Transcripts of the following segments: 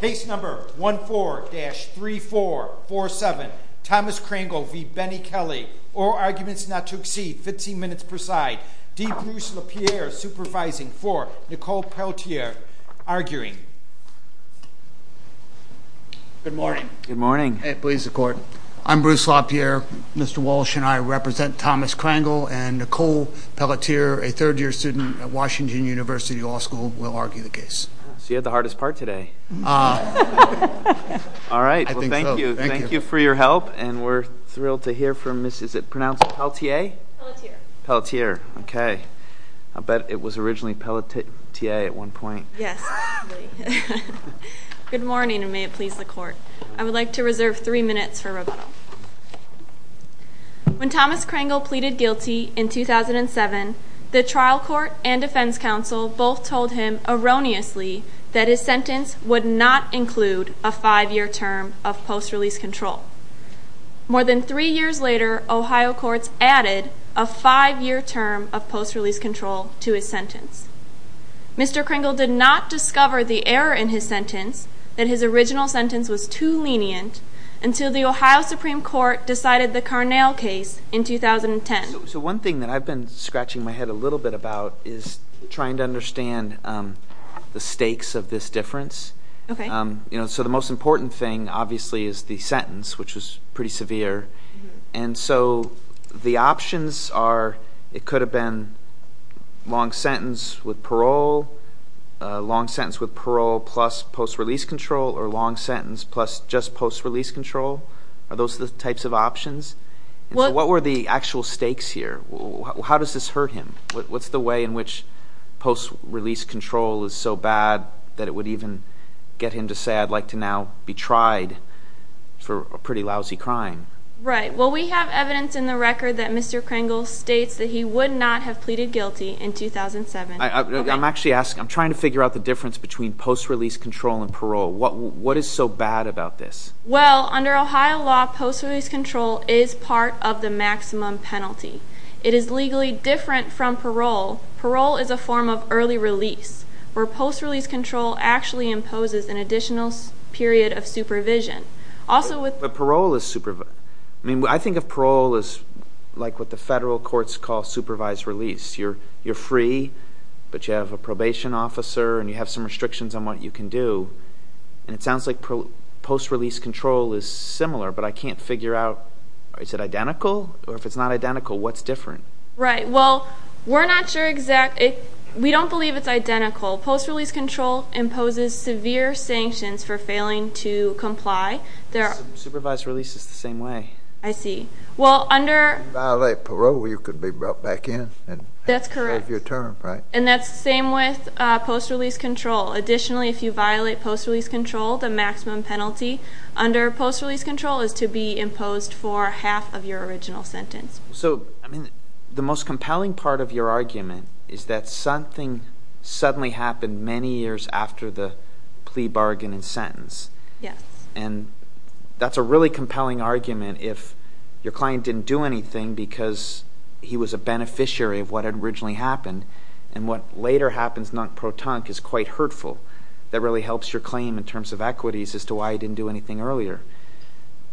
Case number 14-3447, Thomas Crangle v. Bennie Kelly. All arguments not to exceed 15 minutes per side. D. Bruce LaPierre supervising for Nicole Pelletier, arguing. Good morning. Good morning. Please, the court. I'm Bruce LaPierre. Mr. Walsh and I represent Thomas Crangle and Nicole Pelletier, a third-year student at Washington University Law School. We'll argue the case. So you had the hardest part today. All right. Well, thank you. Thank you for your help. And we're thrilled to hear from Mrs. Is it pronounced Pelletier? Pelletier. Pelletier. Okay. I bet it was originally Pelletier at one point. Yes. Good morning, and may it please the court. I would like to reserve three minutes for rebuttal. When Thomas Crangle pleaded guilty in 2007, the trial court and defense counsel both told him erroneously that his sentence would not include a five-year term of post-release control. More than three years later, Ohio courts added a five-year term of post-release control to his sentence. Mr. Crangle did not discover the error in his sentence, that his original sentence was too lenient, until the Ohio Supreme Court decided the Carnell case in 2010. So one thing that I've been scratching my head a little bit about is trying to understand the stakes of this difference. Okay. So the most important thing, obviously, is the sentence, which was pretty severe. And so the options are it could have been long sentence with parole, plus post-release control, or long sentence plus just post-release control. Are those the types of options? What were the actual stakes here? How does this hurt him? What's the way in which post-release control is so bad that it would even get him to say, I'd like to now be tried for a pretty lousy crime? Right. Well, we have evidence in the record that Mr. Crangle states that he would not have pleaded guilty in 2007. I'm actually asking, I'm trying to figure out the difference between post-release control and parole. What is so bad about this? Well, under Ohio law, post-release control is part of the maximum penalty. It is legally different from parole. Parole is a form of early release, where post-release control actually imposes an additional period of supervision. But parole is supervision. I mean, I think of parole as like what the federal courts call supervised release. You're free, but you have a probation officer, and you have some restrictions on what you can do. And it sounds like post-release control is similar, but I can't figure out, is it identical? Or if it's not identical, what's different? Right. Well, we're not sure exactly. We don't believe it's identical. Post-release control imposes severe sanctions for failing to comply. Supervised release is the same way. I see. If you violate parole, you could be brought back in and have your term, right? That's correct. And that's the same with post-release control. Additionally, if you violate post-release control, the maximum penalty under post-release control is to be imposed for half of your original sentence. So, I mean, the most compelling part of your argument is that something suddenly happened many years after the plea bargain and sentence. Yes. And that's a really compelling argument if your client didn't do anything because he was a beneficiary of what had originally happened. And what later happens, non-protonque, is quite hurtful. That really helps your claim in terms of equities as to why he didn't do anything earlier.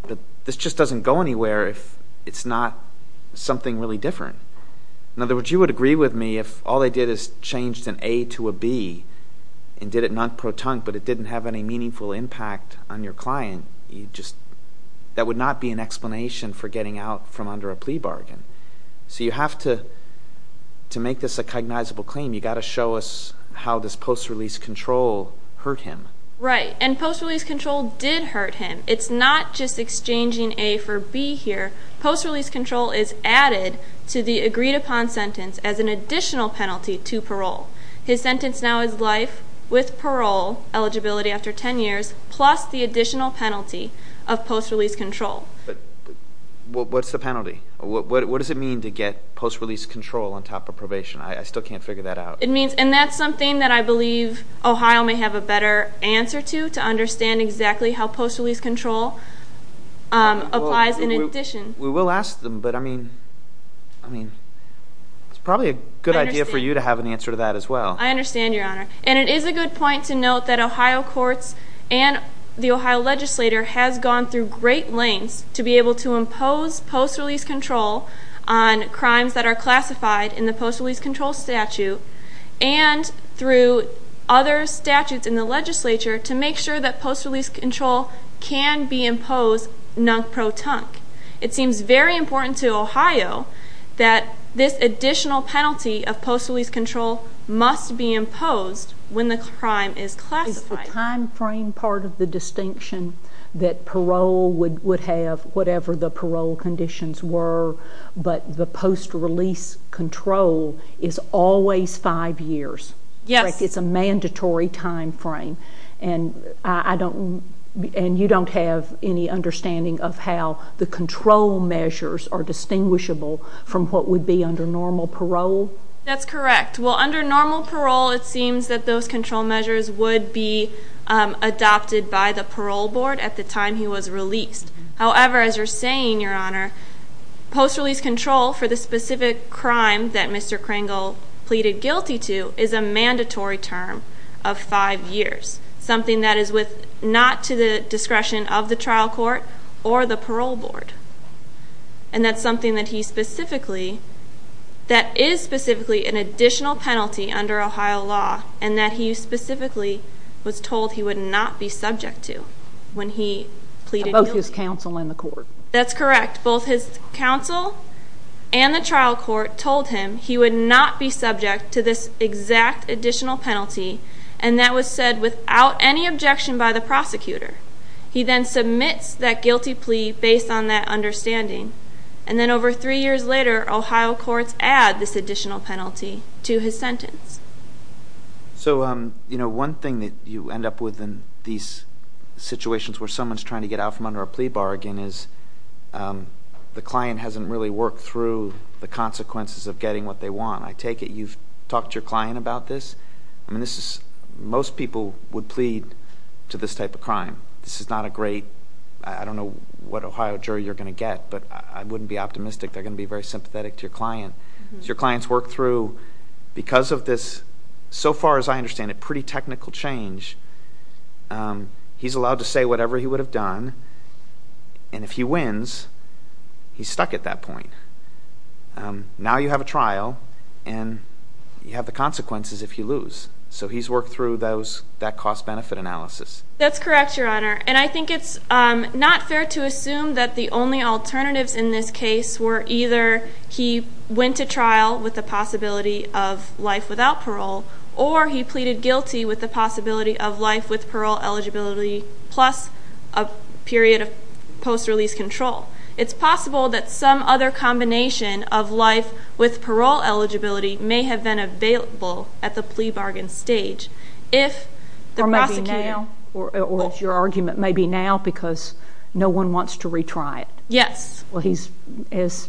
But this just doesn't go anywhere if it's not something really different. In other words, you would agree with me if all they did is changed an A to a B and did it non-protonque but it didn't have any meaningful impact on your client. That would not be an explanation for getting out from under a plea bargain. So you have to make this a cognizable claim. You've got to show us how this post-release control hurt him. Right. And post-release control did hurt him. It's not just exchanging A for B here. Post-release control is added to the agreed-upon sentence as an additional penalty to parole. His sentence now is life with parole eligibility after 10 years plus the additional penalty of post-release control. What's the penalty? What does it mean to get post-release control on top of probation? I still can't figure that out. And that's something that I believe Ohio may have a better answer to, to understand exactly how post-release control applies in addition. We will ask them, but I mean, it's probably a good idea for you to have an answer to that as well. I understand, Your Honor. And it is a good point to note that Ohio courts and the Ohio legislature has gone through great lengths to be able to impose post-release control on crimes that are classified in the post-release control statute and through other statutes in the legislature to make sure that post-release control can be imposed nunk-pro-tunk. It seems very important to Ohio that this additional penalty of post-release control must be imposed when the crime is classified. Is the time frame part of the distinction that parole would have whatever the parole conditions were, but the post-release control is always five years? Yes. It's a mandatory time frame, and you don't have any understanding of how the control measures are distinguishable from what would be under normal parole? That's correct. Well, under normal parole, it seems that those control measures would be adopted by the parole board at the time he was released. However, as you're saying, Your Honor, post-release control for the specific crime that Mr. Kringle pleaded guilty to is a mandatory term of five years, something that is not to the discretion of the trial court or the parole board. And that's something that is specifically an additional penalty under Ohio law and that he specifically was told he would not be subject to when he pleaded guilty. Both his counsel and the court. That's correct. Both his counsel and the trial court told him he would not be subject to this exact additional penalty, and that was said without any objection by the prosecutor. He then submits that guilty plea based on that understanding, and then over three years later, Ohio courts add this additional penalty to his sentence. So one thing that you end up with in these situations where someone is trying to get out from under a plea bargain is the client hasn't really worked through the consequences of getting what they want. I take it you've talked to your client about this? Most people would plead to this type of crime. This is not a great, I don't know what Ohio jury you're going to get, but I wouldn't be optimistic. They're going to be very sympathetic to your client. Your client's worked through, because of this, so far as I understand it, pretty technical change. He's allowed to say whatever he would have done, and if he wins, he's stuck at that point. Now you have a trial, and you have the consequences if you lose. So he's worked through that cost-benefit analysis. That's correct, Your Honor, and I think it's not fair to assume that the only alternatives in this case were either he went to trial with the possibility of life without parole, or he pleaded guilty with the possibility of life with parole eligibility plus a period of post-release control. It's possible that some other combination of life with parole eligibility may have been available at the plea bargain stage. Or maybe now, or as your argument, maybe now because no one wants to retry it. Yes. As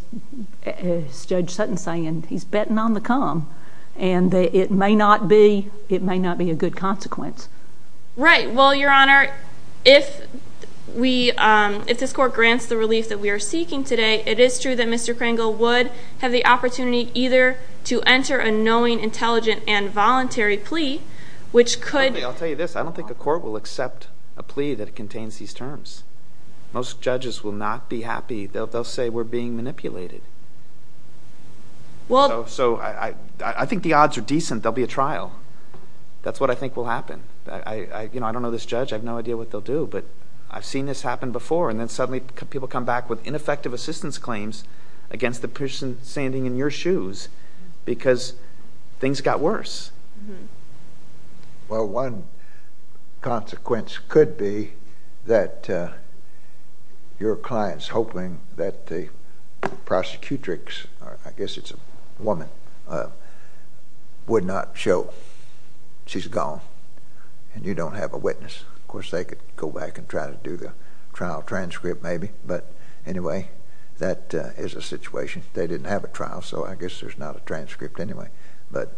Judge Sutton's saying, he's betting on the come, and it may not be a good consequence. Right. Well, Your Honor, if this court grants the relief that we are seeking today, it is true that Mr. Kringle would have the opportunity either to enter a knowing, intelligent, and voluntary plea, which could— I'll tell you this. I don't think a court will accept a plea that contains these terms. Most judges will not be happy. They'll say we're being manipulated. So I think the odds are decent. There will be a trial. That's what I think will happen. I don't know this judge. I have no idea what they'll do, but I've seen this happen before, and then suddenly people come back with ineffective assistance claims against the person standing in your shoes because things got worse. Well, one consequence could be that your clients hoping that the prosecutrix—I guess it's a woman—would not show she's gone, and you don't have a witness. Of course, they could go back and try to do the trial transcript maybe, but anyway, that is a situation. They didn't have a trial, so I guess there's not a transcript anyway. But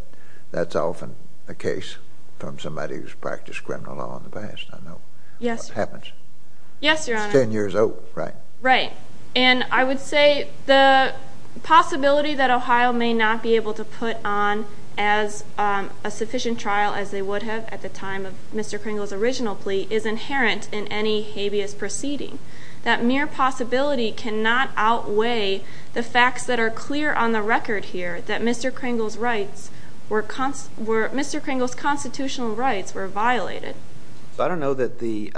that's often the case from somebody who's practiced criminal law in the past. I know what happens. Yes, Your Honor. It's 10 years old, right? Right. And I would say the possibility that Ohio may not be able to put on as a sufficient trial as they would have at the time of Mr. Kringle's original plea is inherent in any habeas proceeding. That mere possibility cannot outweigh the facts that are clear on the record here that Mr. Kringle's constitutional rights were violated. I don't know that the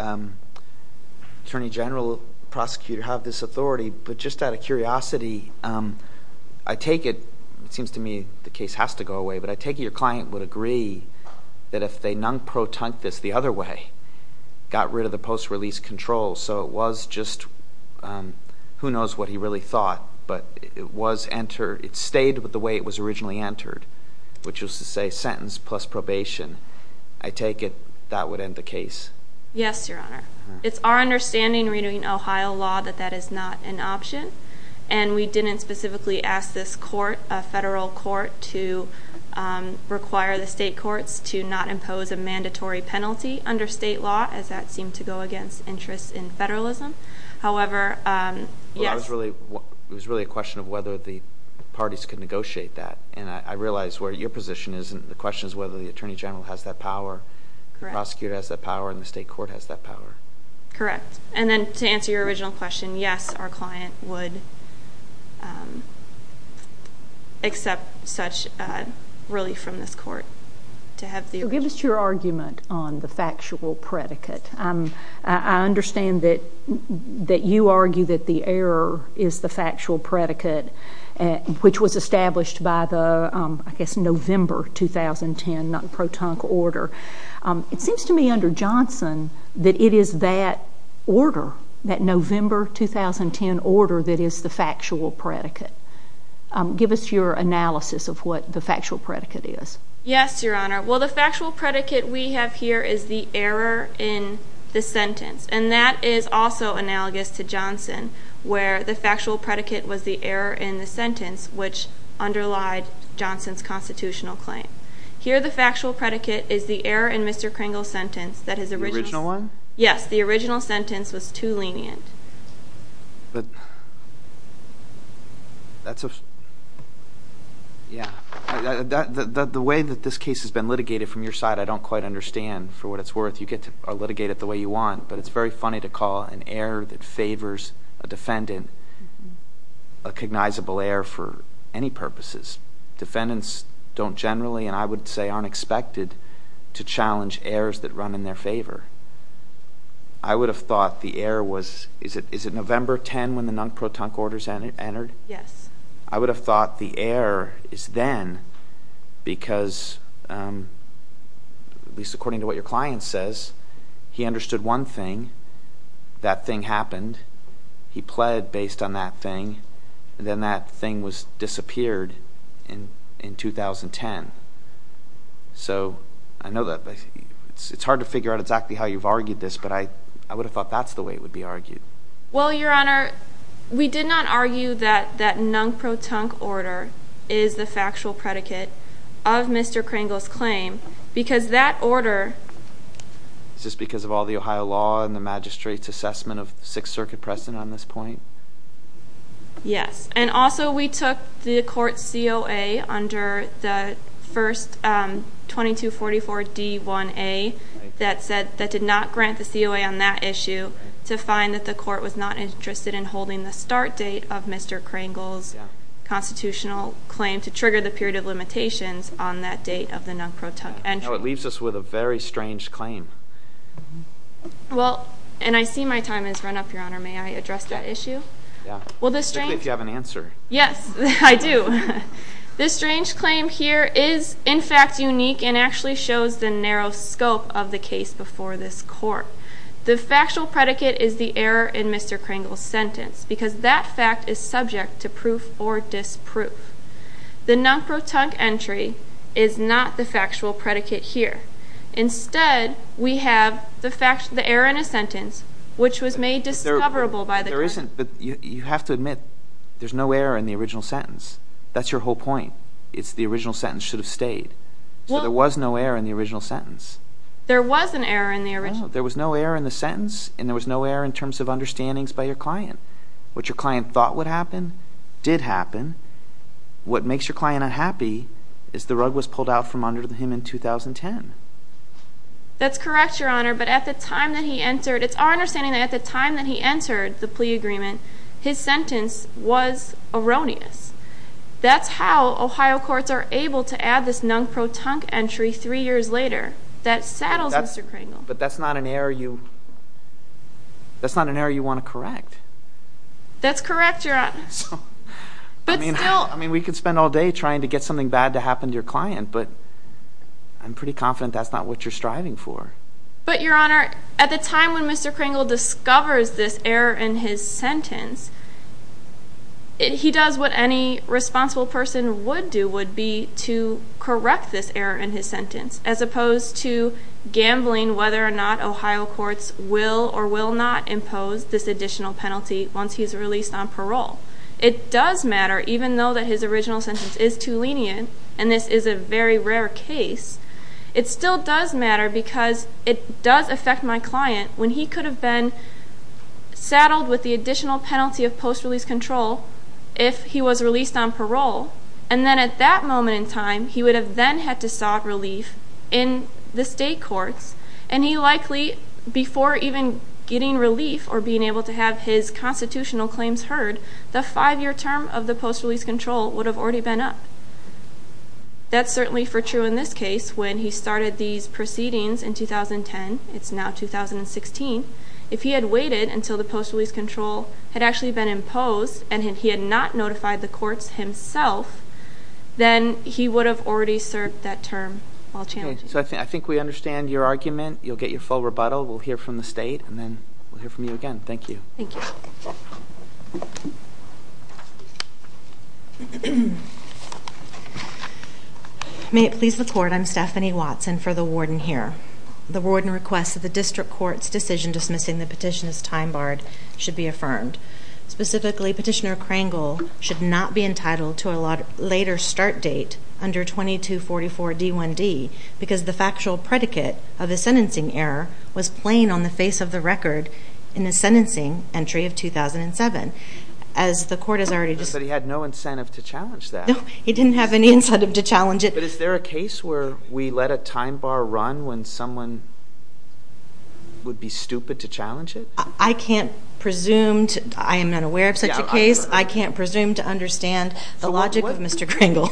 attorney general prosecutor had this authority, but just out of curiosity, I take it—it seems to me the case has to go away— but I take it your client would agree that if they non-protunct this the other way, got rid of the post-release control, so it was just—who knows what he really thought, but it was entered—it stayed the way it was originally entered, which was to say sentence plus probation. I take it that would end the case. Yes, Your Honor. It's our understanding reading Ohio law that that is not an option, and we didn't specifically ask this court, a federal court, to require the state courts to not impose a mandatory penalty under state law, as that seemed to go against interests in federalism. However, yes— Well, that was really a question of whether the parties could negotiate that, and I realize where your position is, and the question is whether the attorney general has that power, the prosecutor has that power, and the state court has that power. Correct. And then to answer your original question, yes, our client would accept such relief from this court to have the— Give us your argument on the factual predicate. I understand that you argue that the error is the factual predicate, which was established by the, I guess, November 2010 non-protunct order. It seems to me under Johnson that it is that order, that November 2010 order, that is the factual predicate. Give us your analysis of what the factual predicate is. Yes, Your Honor. Well, the factual predicate we have here is the error in the sentence, and that is also analogous to Johnson, where the factual predicate was the error in the sentence, which underlied Johnson's constitutional claim. Here the factual predicate is the error in Mr. Kringle's sentence that his original— The original one? Yes, the original sentence was too lenient. But that's a—yeah. The way that this case has been litigated from your side, I don't quite understand. For what it's worth, you get to litigate it the way you want, but it's very funny to call an error that favors a defendant a cognizable error for any purposes. Defendants don't generally, and I would say aren't expected, to challenge errors that run in their favor. I would have thought the error was—is it November 10 when the non-protunct orders entered? Yes. I would have thought the error is then because, at least according to what your client says, he understood one thing, that thing happened, he pled based on that thing, and then that thing was disappeared in 2010. So I know that—it's hard to figure out exactly how you've argued this, but I would have thought that's the way it would be argued. Well, Your Honor, we did not argue that that non-protunct order is the factual predicate of Mr. Kringle's claim, because that order— Is this because of all the Ohio law and the magistrate's assessment of Sixth Circuit precedent on this point? Yes. And also we took the court's COA under the first 2244D1A that did not grant the COA on that issue to find that the court was not interested in holding the start date of Mr. Kringle's constitutional claim to trigger the period of limitations on that date of the non-protunct entry. You know, it leaves us with a very strange claim. Well, and I see my time has run up, Your Honor. May I address that issue? Yeah. Well, this strange— Particularly if you have an answer. Yes, I do. This strange claim here is, in fact, unique and actually shows the narrow scope of the case before this court. The factual predicate is the error in Mr. Kringle's sentence, because that fact is subject to proof or disproof. The non-protunct entry is not the factual predicate here. Instead, we have the error in a sentence, which was made discoverable by the court. There isn't—you have to admit there's no error in the original sentence. That's your whole point. It's the original sentence should have stayed. So there was no error in the original sentence. There was an error in the original— No, there was no error in the sentence, and there was no error in terms of understandings by your client. What your client thought would happen did happen. What makes your client unhappy is the rug was pulled out from under him in 2010. That's correct, Your Honor, but at the time that he entered—it's our understanding that at the time that he entered the plea agreement, his sentence was erroneous. That's how Ohio courts are able to add this non-protunct entry three years later. That saddles Mr. Kringle. But that's not an error you—that's not an error you want to correct. That's correct, Your Honor. I mean, we could spend all day trying to get something bad to happen to your client, but I'm pretty confident that's not what you're striving for. But, Your Honor, at the time when Mr. Kringle discovers this error in his sentence, he does what any responsible person would do would be to correct this error in his sentence, as opposed to gambling whether or not Ohio courts will or will not impose this additional penalty once he's released on parole. It does matter, even though that his original sentence is too lenient, and this is a very rare case, it still does matter because it does affect my client when he could have been saddled with the additional penalty of post-release control if he was released on parole, and then at that moment in time, he would have then had to sought relief in the state courts, and he likely, before even getting relief or being able to have his constitutional claims heard, the five-year term of the post-release control would have already been up. That's certainly for true in this case. When he started these proceedings in 2010, it's now 2016, if he had waited until the post-release control had actually been imposed, and he had not notified the courts himself, then he would have already served that term while challenging. Okay, so I think we understand your argument. You'll get your full rebuttal. We'll hear from the state, and then we'll hear from you again. Thank you. Thank you. May it please the Court, I'm Stephanie Watson for the warden here. The warden requests that the district court's decision dismissing the petition as time-barred should be affirmed. Specifically, Petitioner Krangel should not be entitled to a later start date under 2244 D1D because the factual predicate of the sentencing error was plain on the face of the record in the sentencing entry of 2007. But he had no incentive to challenge that. No, he didn't have any incentive to challenge it. But is there a case where we let a time-bar run when someone would be stupid to challenge it? I can't presume to. I am not aware of such a case. I can't presume to understand the logic of Mr. Krangel.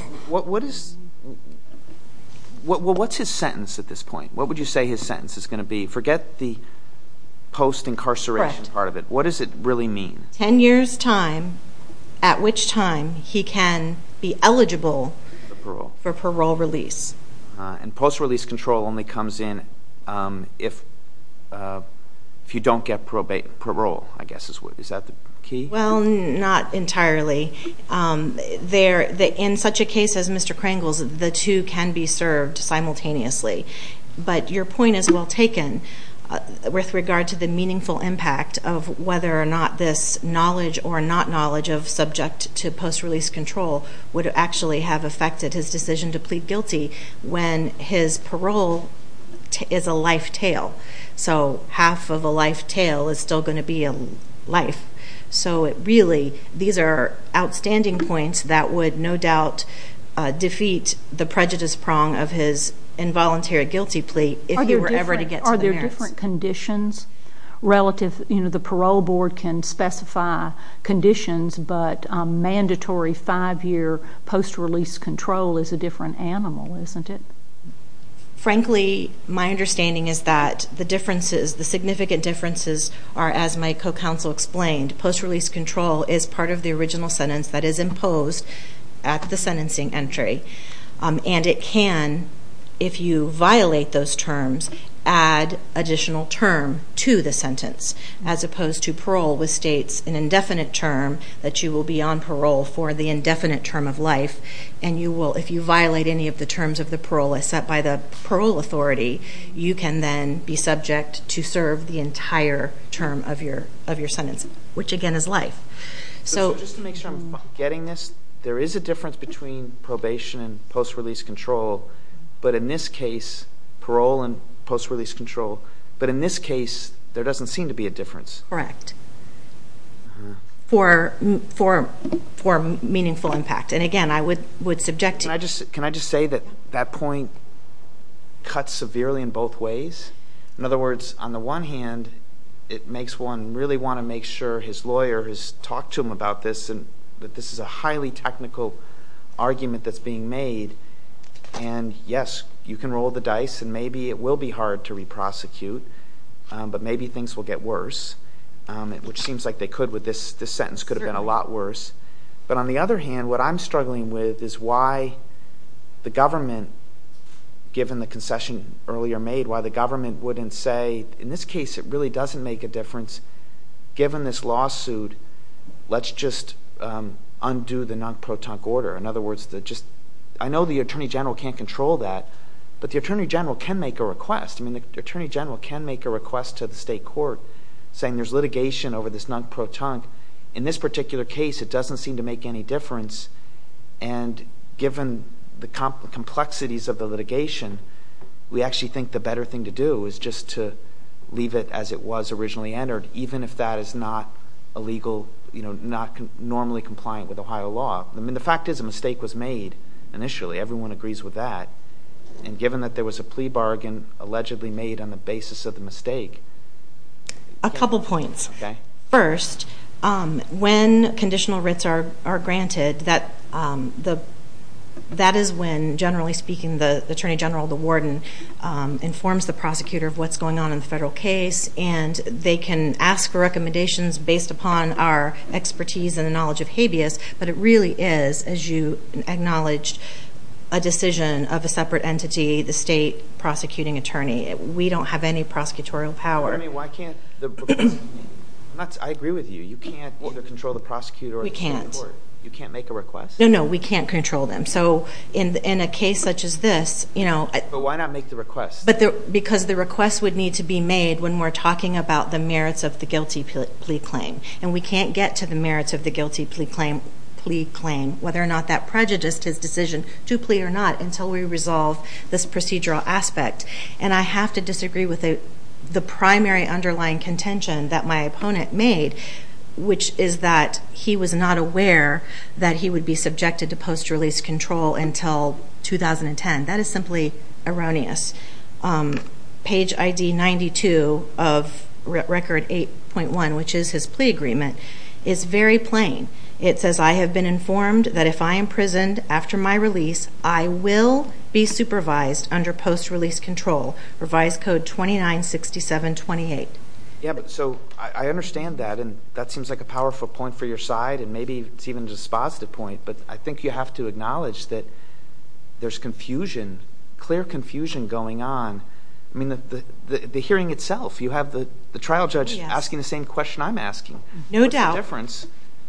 What's his sentence at this point? What would you say his sentence is going to be? Forget the post-incarceration part of it. What does it really mean? Ten years' time at which time he can be eligible for parole release. And post-release control only comes in if you don't get parole, I guess. Is that the key? Well, not entirely. In such a case as Mr. Krangel's, the two can be served simultaneously. But your point is well taken with regard to the meaningful impact of whether or not this knowledge or not knowledge of subject to post-release control would actually have affected his decision to plead guilty when his parole is a life tail. So half of a life tail is still going to be a life. So it really, these are outstanding points that would no doubt defeat the prejudice prong of his involuntary guilty plea if he were ever to get to the merits. Are there different conditions relative, you know, the parole board can specify conditions, but mandatory five-year post-release control is a different animal, isn't it? Frankly, my understanding is that the differences, the significant differences are, as my co-counsel explained, post-release control is part of the original sentence that is imposed at the sentencing entry. And it can, if you violate those terms, add additional term to the sentence, as opposed to parole, which states an indefinite term that you will be on parole for the indefinite term of life. And you will, if you violate any of the terms of the parole, except by the parole authority, you can then be subject to serve the entire term of your sentence, which again is life. So just to make sure I'm getting this, there is a difference between probation and post-release control, but in this case, parole and post-release control, but in this case, there doesn't seem to be a difference. Correct. For meaningful impact. And again, I would subject to— Can I just say that that point cuts severely in both ways? In other words, on the one hand, it makes one really want to make sure his lawyer has talked to him about this, and that this is a highly technical argument that's being made. And yes, you can roll the dice, and maybe it will be hard to re-prosecute, but maybe things will get worse, which seems like they could with this. This sentence could have been a lot worse. But on the other hand, what I'm struggling with is why the government, given the concession earlier made, why the government wouldn't say, in this case, it really doesn't make a difference. Given this lawsuit, let's just undo the non-protonc order. In other words, I know the attorney general can't control that, but the attorney general can make a request. I mean, the attorney general can make a request to the state court saying there's litigation over this non-protonc. In this particular case, it doesn't seem to make any difference, and given the complexities of the litigation, we actually think the better thing to do is just to leave it as it was originally entered, even if that is not a legal—not normally compliant with Ohio law. I mean, the fact is a mistake was made initially. Everyone agrees with that. And given that there was a plea bargain allegedly made on the basis of the mistake— A couple points. Okay. First, when conditional writs are granted, that is when, generally speaking, the attorney general, the warden, informs the prosecutor of what's going on in the federal case, and they can ask for recommendations based upon our expertise and the knowledge of habeas, but it really is, as you acknowledged, a decision of a separate entity, the state prosecuting attorney. We don't have any prosecutorial power. I mean, why can't the—I agree with you. You can't either control the prosecutor or the state court. We can't. You can't make a request? No, no. We can't control them. So in a case such as this— But why not make the request? Because the request would need to be made when we're talking about the merits of the guilty plea claim, and we can't get to the merits of the guilty plea claim, whether or not that prejudiced his decision to plea or not, until we resolve this procedural aspect. And I have to disagree with the primary underlying contention that my opponent made, which is that he was not aware that he would be subjected to post-release control until 2010. That is simply erroneous. Page ID 92 of Record 8.1, which is his plea agreement, is very plain. It says, I have been informed that if I am imprisoned after my release, I will be supervised under post-release control, Revised Code 296728. Yeah, but so I understand that, and that seems like a powerful point for your side, and maybe it's even just a positive point, but I think you have to acknowledge that there's confusion, clear confusion going on. I mean, the hearing itself, you have the trial judge asking the same question I'm asking. No doubt. What's the difference?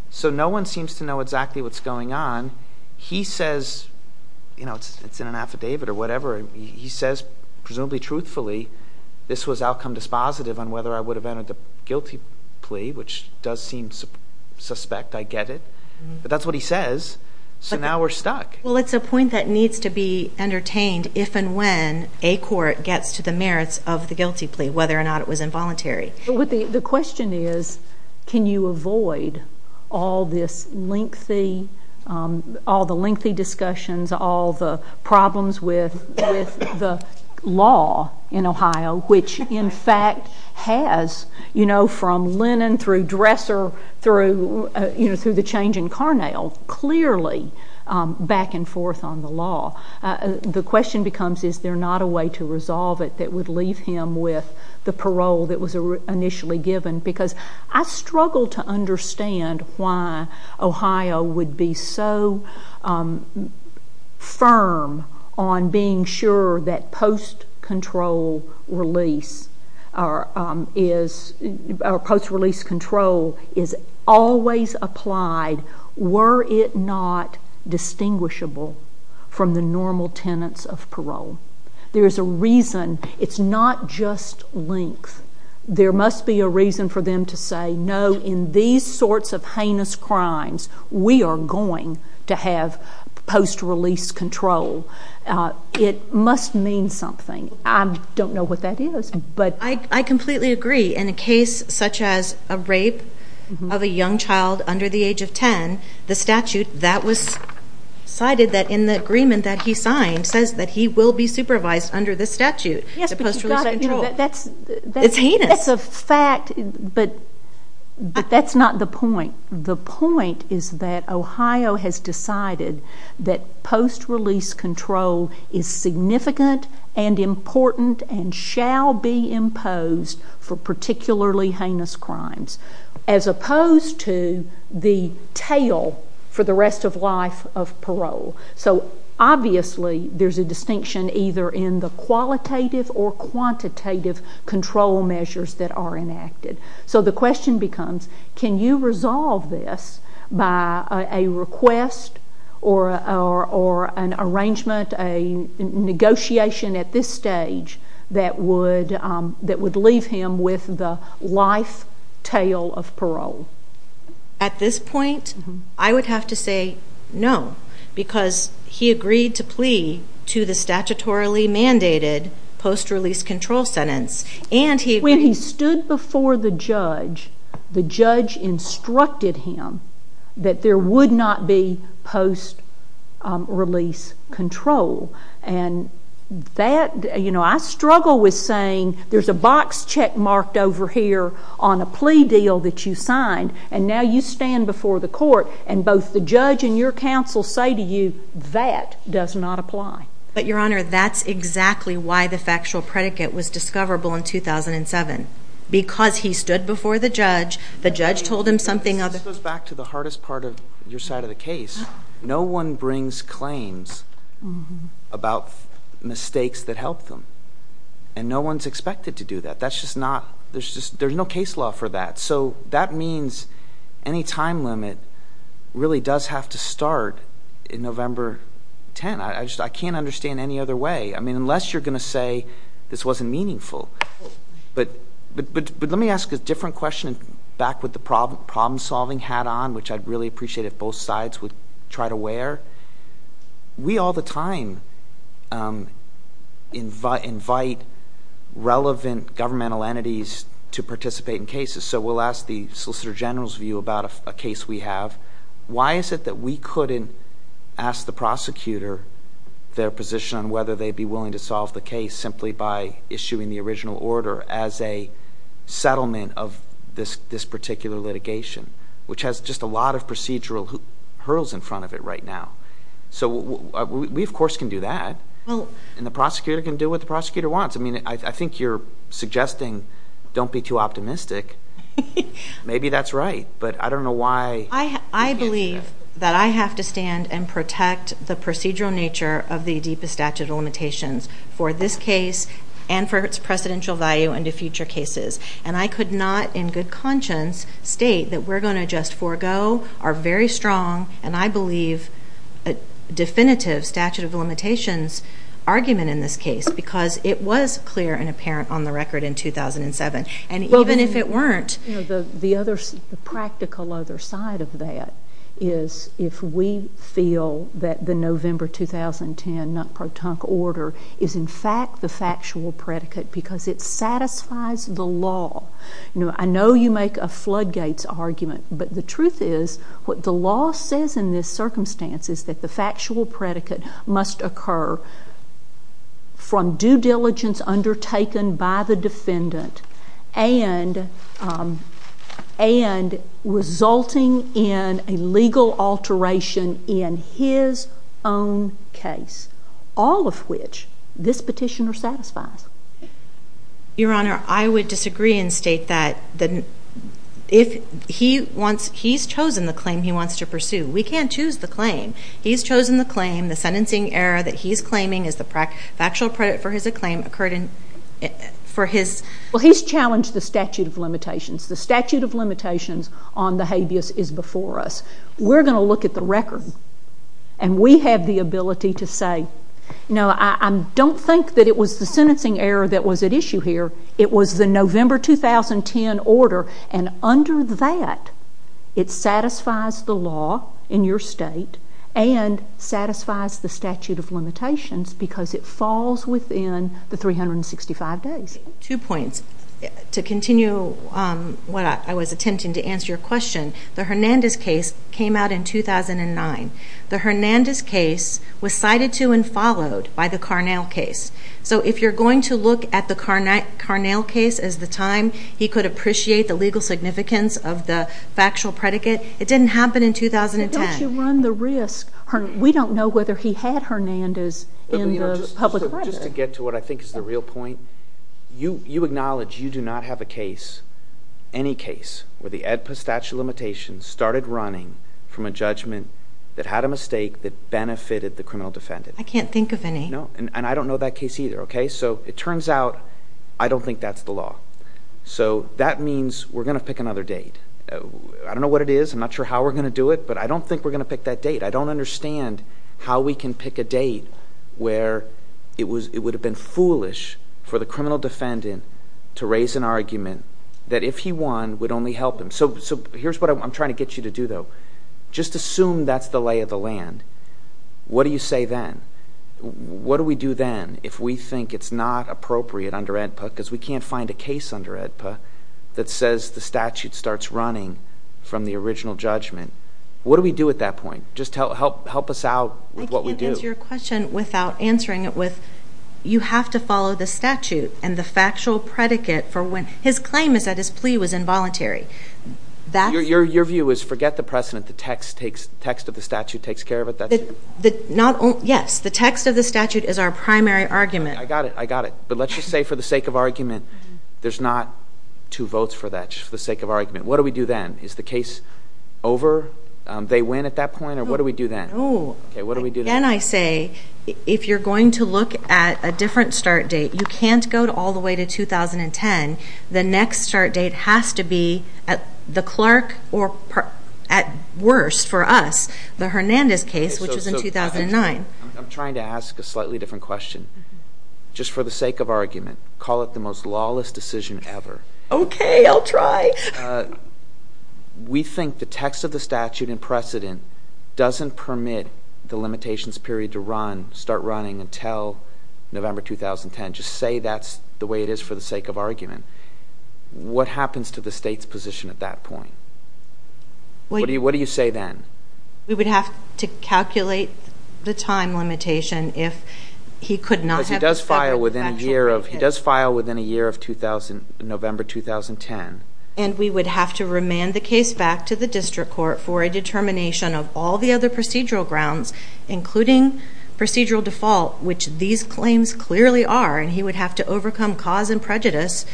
So no one seems to know exactly what's going on. He says, you know, it's in an affidavit or whatever. He says, presumably truthfully, this was outcome dispositive on whether I would have entered the guilty plea, which does seem suspect. I get it. But that's what he says, so now we're stuck. Well, it's a point that needs to be entertained if and when a court gets to the merits of the guilty plea, whether or not it was involuntary. The question is, can you avoid all this lengthy, all the lengthy discussions, all the problems with the law in Ohio, which in fact has, you know, from Lennon through Dresser through, you know, through the change in Carnell, clearly back and forth on the law. The question becomes, is there not a way to resolve it that would leave him with the parole that was initially given? Because I struggle to understand why Ohio would be so firm on being sure that post-control release or post-release control is always applied were it not distinguishable from the normal tenets of parole. There is a reason. It's not just length. There must be a reason for them to say, no, in these sorts of heinous crimes, we are going to have post-release control. It must mean something. I don't know what that is. I completely agree. In a case such as a rape of a young child under the age of ten, the statute that was cited in the agreement that he signed says that he will be supervised under this statute, the post-release control. It's heinous. That's a fact, but that's not the point. The point is that Ohio has decided that post-release control is significant and important and shall be imposed for particularly heinous crimes, as opposed to the tail for the rest of life of parole. So, obviously, there's a distinction either in the qualitative or quantitative control measures that are enacted. So the question becomes, can you resolve this by a request or an arrangement, a negotiation at this stage that would leave him with the life tail of parole? At this point, I would have to say no, because he agreed to plea to the statutorily mandated post-release control sentence. When he stood before the judge, the judge instructed him that there would not be post-release control. And that, you know, I struggle with saying there's a box check marked over here on a plea deal that you signed, and now you stand before the court and both the judge and your counsel say to you, that does not apply. But, Your Honor, that's exactly why the factual predicate was discoverable in 2007. Because he stood before the judge, the judge told him something other... This goes back to the hardest part of your side of the case. No one brings claims about mistakes that helped them, and no one's expected to do that. That's just not, there's just, there's no case law for that. So that means any time limit really does have to start in November 10. I just, I can't understand any other way. I mean, unless you're going to say this wasn't meaningful. But let me ask a different question back with the problem solving hat on, which I'd really appreciate if both sides would try to wear. We all the time invite relevant governmental entities to participate in cases. So we'll ask the Solicitor General's view about a case we have. Why is it that we couldn't ask the prosecutor their position on whether they'd be willing to solve the case simply by issuing the original order as a settlement of this particular litigation, which has just a lot of procedural hurdles in front of it right now. So we, of course, can do that. And the prosecutor can do what the prosecutor wants. I mean, I think you're suggesting don't be too optimistic. Maybe that's right, but I don't know why. I believe that I have to stand and protect the procedural nature of the deepest statute of limitations for this case and for its precedential value into future cases. And I could not in good conscience state that we're going to just forego our very strong, and I believe definitive statute of limitations argument in this case because it was clear and apparent on the record in 2007. And even if it weren't. The practical other side of that is if we feel that the November 2010 non-protonical order is in fact the factual predicate because it satisfies the law. I know you make a floodgates argument, but the truth is what the law says in this circumstance is that the factual predicate must occur from due diligence undertaken by the defendant and resulting in a legal alteration in his own case, all of which this petitioner satisfies. Your Honor, I would disagree and state that he's chosen the claim he wants to pursue. We can't choose the claim. He's chosen the claim. The sentencing error that he's claiming is the factual predicate for his claim occurred for his... Well, he's challenged the statute of limitations. The statute of limitations on the habeas is before us. We're going to look at the record, and we have the ability to say, no, I don't think that it was the sentencing error that was at issue here. It was the November 2010 order. And under that, it satisfies the law in your state and satisfies the statute of limitations because it falls within the 365 days. Two points. To continue what I was attempting to answer your question, the Hernandez case came out in 2009. The Hernandez case was cited to and followed by the Carnell case. So if you're going to look at the Carnell case as the time he could appreciate the legal significance of the factual predicate, it didn't happen in 2010. But don't you run the risk? We don't know whether he had Hernandez in the public record. Just to get to what I think is the real point, you acknowledge you do not have a case, any case, where the Edpus statute of limitations started running from a judgment that had a mistake that benefited the criminal defendant. I can't think of any. No, and I don't know that case either. So it turns out I don't think that's the law. So that means we're going to pick another date. I don't know what it is. I'm not sure how we're going to do it, but I don't think we're going to pick that date. I don't understand how we can pick a date where it would have been foolish for the criminal defendant to raise an argument that if he won, it would only help him. So here's what I'm trying to get you to do though. Just assume that's the lay of the land. What do you say then? What do we do then if we think it's not appropriate under AEDPA because we can't find a case under AEDPA that says the statute starts running from the original judgment? What do we do at that point? Just help us out with what we do. I can't answer your question without answering it with you have to follow the statute and the factual predicate for when his claim is that his plea was involuntary. Your view is forget the precedent. The text of the statute takes care of it? Yes. The text of the statute is our primary argument. I got it. I got it. But let's just say for the sake of argument, there's not two votes for that, just for the sake of argument. What do we do then? Is the case over? They win at that point? Or what do we do then? No. Again, I say if you're going to look at a different start date, you can't go all the way to 2010. The next start date has to be at the clerk or at worst for us, the Hernandez case, which was in 2009. I'm trying to ask a slightly different question. Just for the sake of argument, call it the most lawless decision ever. Okay. I'll try. We think the text of the statute and precedent doesn't permit the limitations period to run, start running until November 2010. Just say that's the way it is for the sake of argument. What happens to the State's position at that point? What do you say then? We would have to calculate the time limitation if he could not have the statute. Because he does file within a year of November 2010. And we would have to remand the case back to the district court for a determination of all the other procedural grounds, including procedural default, which these claims clearly are, and he would have to overcome cause and prejudice,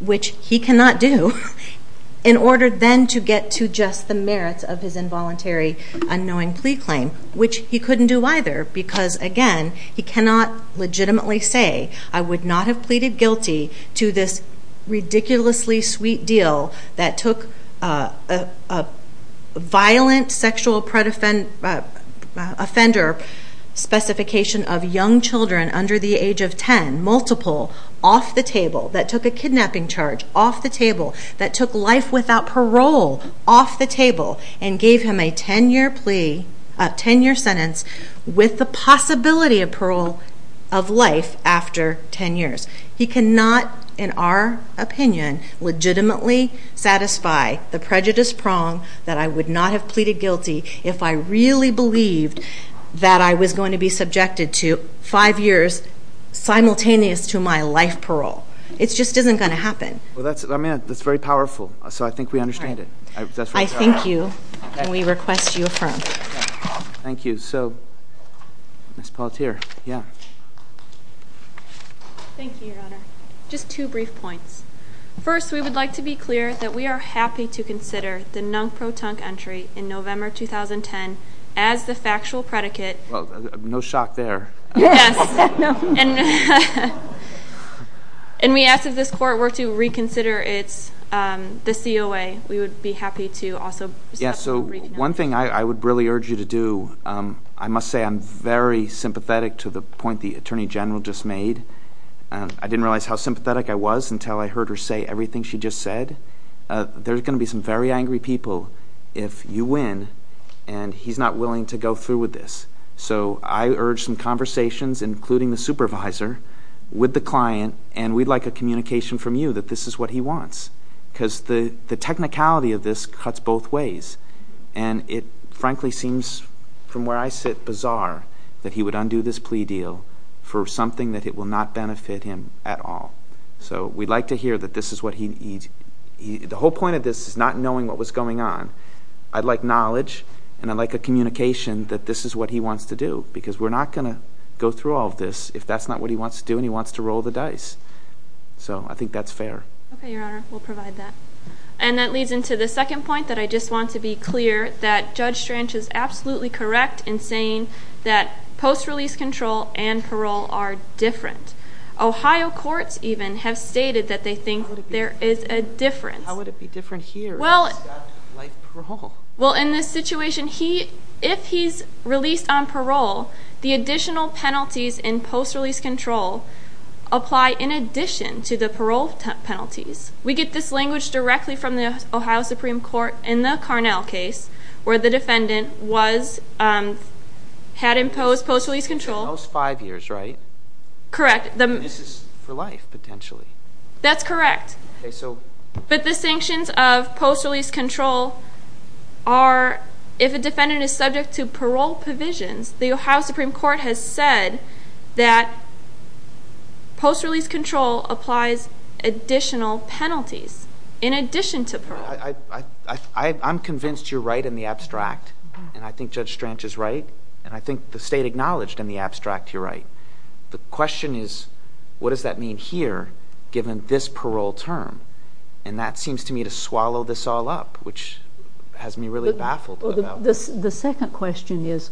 which he cannot do, in order then to get to just the merits of his involuntary unknowing plea claim, he cannot legitimately say, I would not have pleaded guilty to this ridiculously sweet deal that took a violent sexual offender specification of young children under the age of 10, multiple, off the table, that took a kidnapping charge off the table, that took life without parole off the table, and gave him a 10-year sentence with the possibility of parole of life after 10 years. He cannot, in our opinion, legitimately satisfy the prejudice prong that I would not have pleaded guilty if I really believed that I was going to be subjected to five years simultaneous to my life parole. It just isn't going to happen. That's very powerful, so I think we understand it. I thank you, and we request you affirm. Thank you. So, Ms. Paltier, yeah. Thank you, Your Honor. Just two brief points. First, we would like to be clear that we are happy to consider the non-pro-tunk entry in November 2010 as the factual predicate. Well, no shock there. Yes. And we ask that this court were to reconsider the COA. We would be happy to also stop and reconvene. Yeah, so one thing I would really urge you to do, I must say I'm very sympathetic to the point the Attorney General just made. I didn't realize how sympathetic I was until I heard her say everything she just said. There's going to be some very angry people if you win, and he's not willing to go through with this. So I urge some conversations, including the supervisor, with the client, and we'd like a communication from you that this is what he wants. Because the technicality of this cuts both ways, and it frankly seems from where I sit bizarre that he would undo this plea deal for something that it will not benefit him at all. So we'd like to hear that this is what he needs. The whole point of this is not knowing what was going on. I'd like knowledge, and I'd like a communication that this is what he wants to do. Because we're not going to go through all of this if that's not what he wants to do and he wants to roll the dice. So I think that's fair. Okay, Your Honor, we'll provide that. And that leads into the second point that I just want to be clear that Judge Strange is absolutely correct in saying that post-release control and parole are different. Ohio courts even have stated that they think there is a difference. How would it be different here if he's got life parole? Well, in this situation, if he's released on parole, the additional penalties in post-release control apply in addition to the parole penalties. We get this language directly from the Ohio Supreme Court in the Carnell case where the defendant had imposed post-release control. For the most five years, right? Correct. This is for life, potentially. That's correct. But the sanctions of post-release control are, if a defendant is subject to parole provisions, the Ohio Supreme Court has said that post-release control applies additional penalties in addition to parole. I'm convinced you're right in the abstract. And I think Judge Strange is right. And I think the State acknowledged in the abstract you're right. The question is what does that mean here given this parole term? And that seems to me to swallow this all up, which has me really baffled. The second question is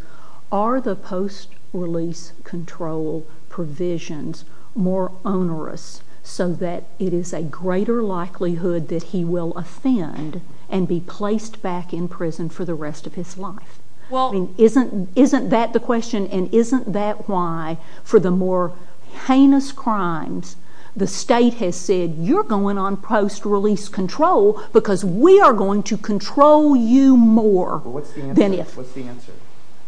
are the post-release control provisions more onerous so that it is a greater likelihood that he will offend and be placed back in prison for the rest of his life? Isn't that the question? And isn't that why for the more heinous crimes the State has said you're going on post-release control because we are going to control you more than if? What's the answer?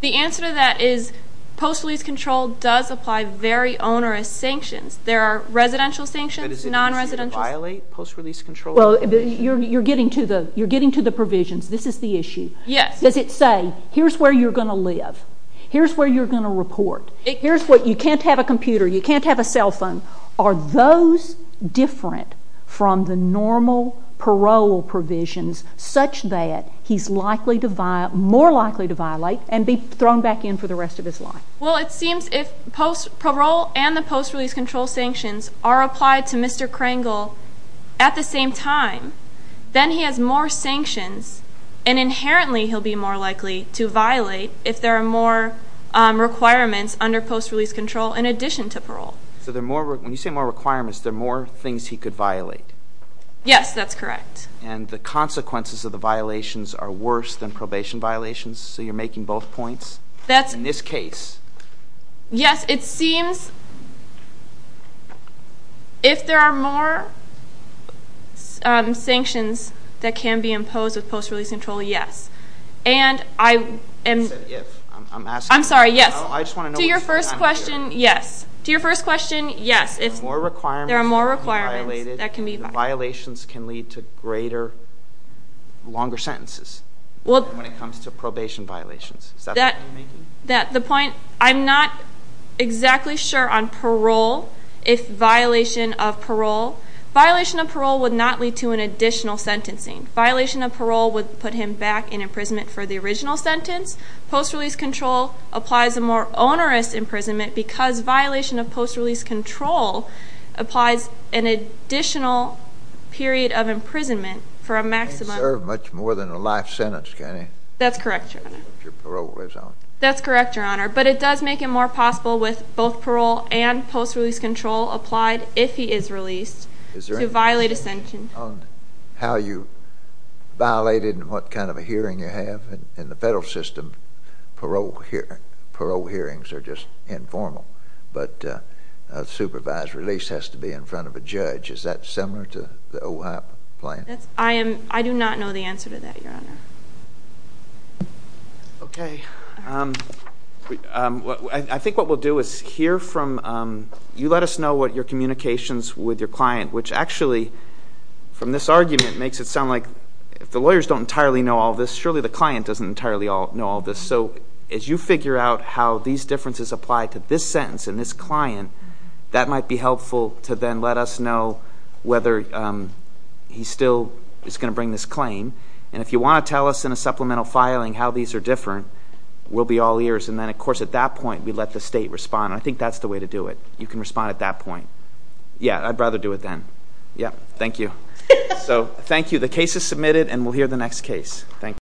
The answer to that is post-release control does apply very onerous sanctions. There are residential sanctions, non-residential. But is it an issue to violate post-release control? You're getting to the provisions. This is the issue. Yes. Does it say here's where you're going to live. Here's where you're going to report. You can't have a computer. You can't have a cell phone. Are those different from the normal parole provisions such that he's more likely to violate and be thrown back in for the rest of his life? Well, it seems if parole and the post-release control sanctions are applied to Mr. Krangel at the same time, then he has more sanctions. And inherently he'll be more likely to violate if there are more requirements under post-release control in addition to parole. So when you say more requirements, there are more things he could violate? Yes, that's correct. And the consequences of the violations are worse than probation violations? So you're making both points? In this case. Yes. It seems if there are more sanctions that can be imposed with post-release control, yes. And I am... You said if. I'm asking. I'm sorry, yes. I just want to know which time period. To your first question, yes. To your first question, yes. If there are more requirements that can be violated, the violations can lead to greater, longer sentences when it comes to probation violations. Is that what you're making? The point... I'm not exactly sure on parole, if violation of parole... Violation of parole would not lead to an additional sentencing. Violation of parole would put him back in imprisonment for the original sentence. Post-release control applies a more onerous imprisonment because violation of post-release control applies an additional period of imprisonment for a maximum... It can serve much more than a life sentence, can it? That's correct, Your Honor. If your parole lives on. That's correct, Your Honor. But it does make it more possible with both parole and post-release control applied, if he is released, to violate a sentence. Is there any question on how you violate it and what kind of a hearing you have? In the federal system, parole hearings are just informal. But a supervised release has to be in front of a judge. Is that similar to the OHOP plan? I do not know the answer to that, Your Honor. Okay. I think what we'll do is hear from you. Let us know what your communications with your client, which actually, from this argument, makes it sound like if the lawyers don't entirely know all this, surely the client doesn't entirely know all this. So as you figure out how these differences apply to this sentence and this client, that might be helpful to then let us know whether he still is going to bring this claim. And if you want to tell us in a supplemental filing how these are different, we'll be all ears. And then, of course, at that point, we let the state respond. And I think that's the way to do it. You can respond at that point. Yeah, I'd rather do it then. Yeah, thank you. So thank you. Thank you.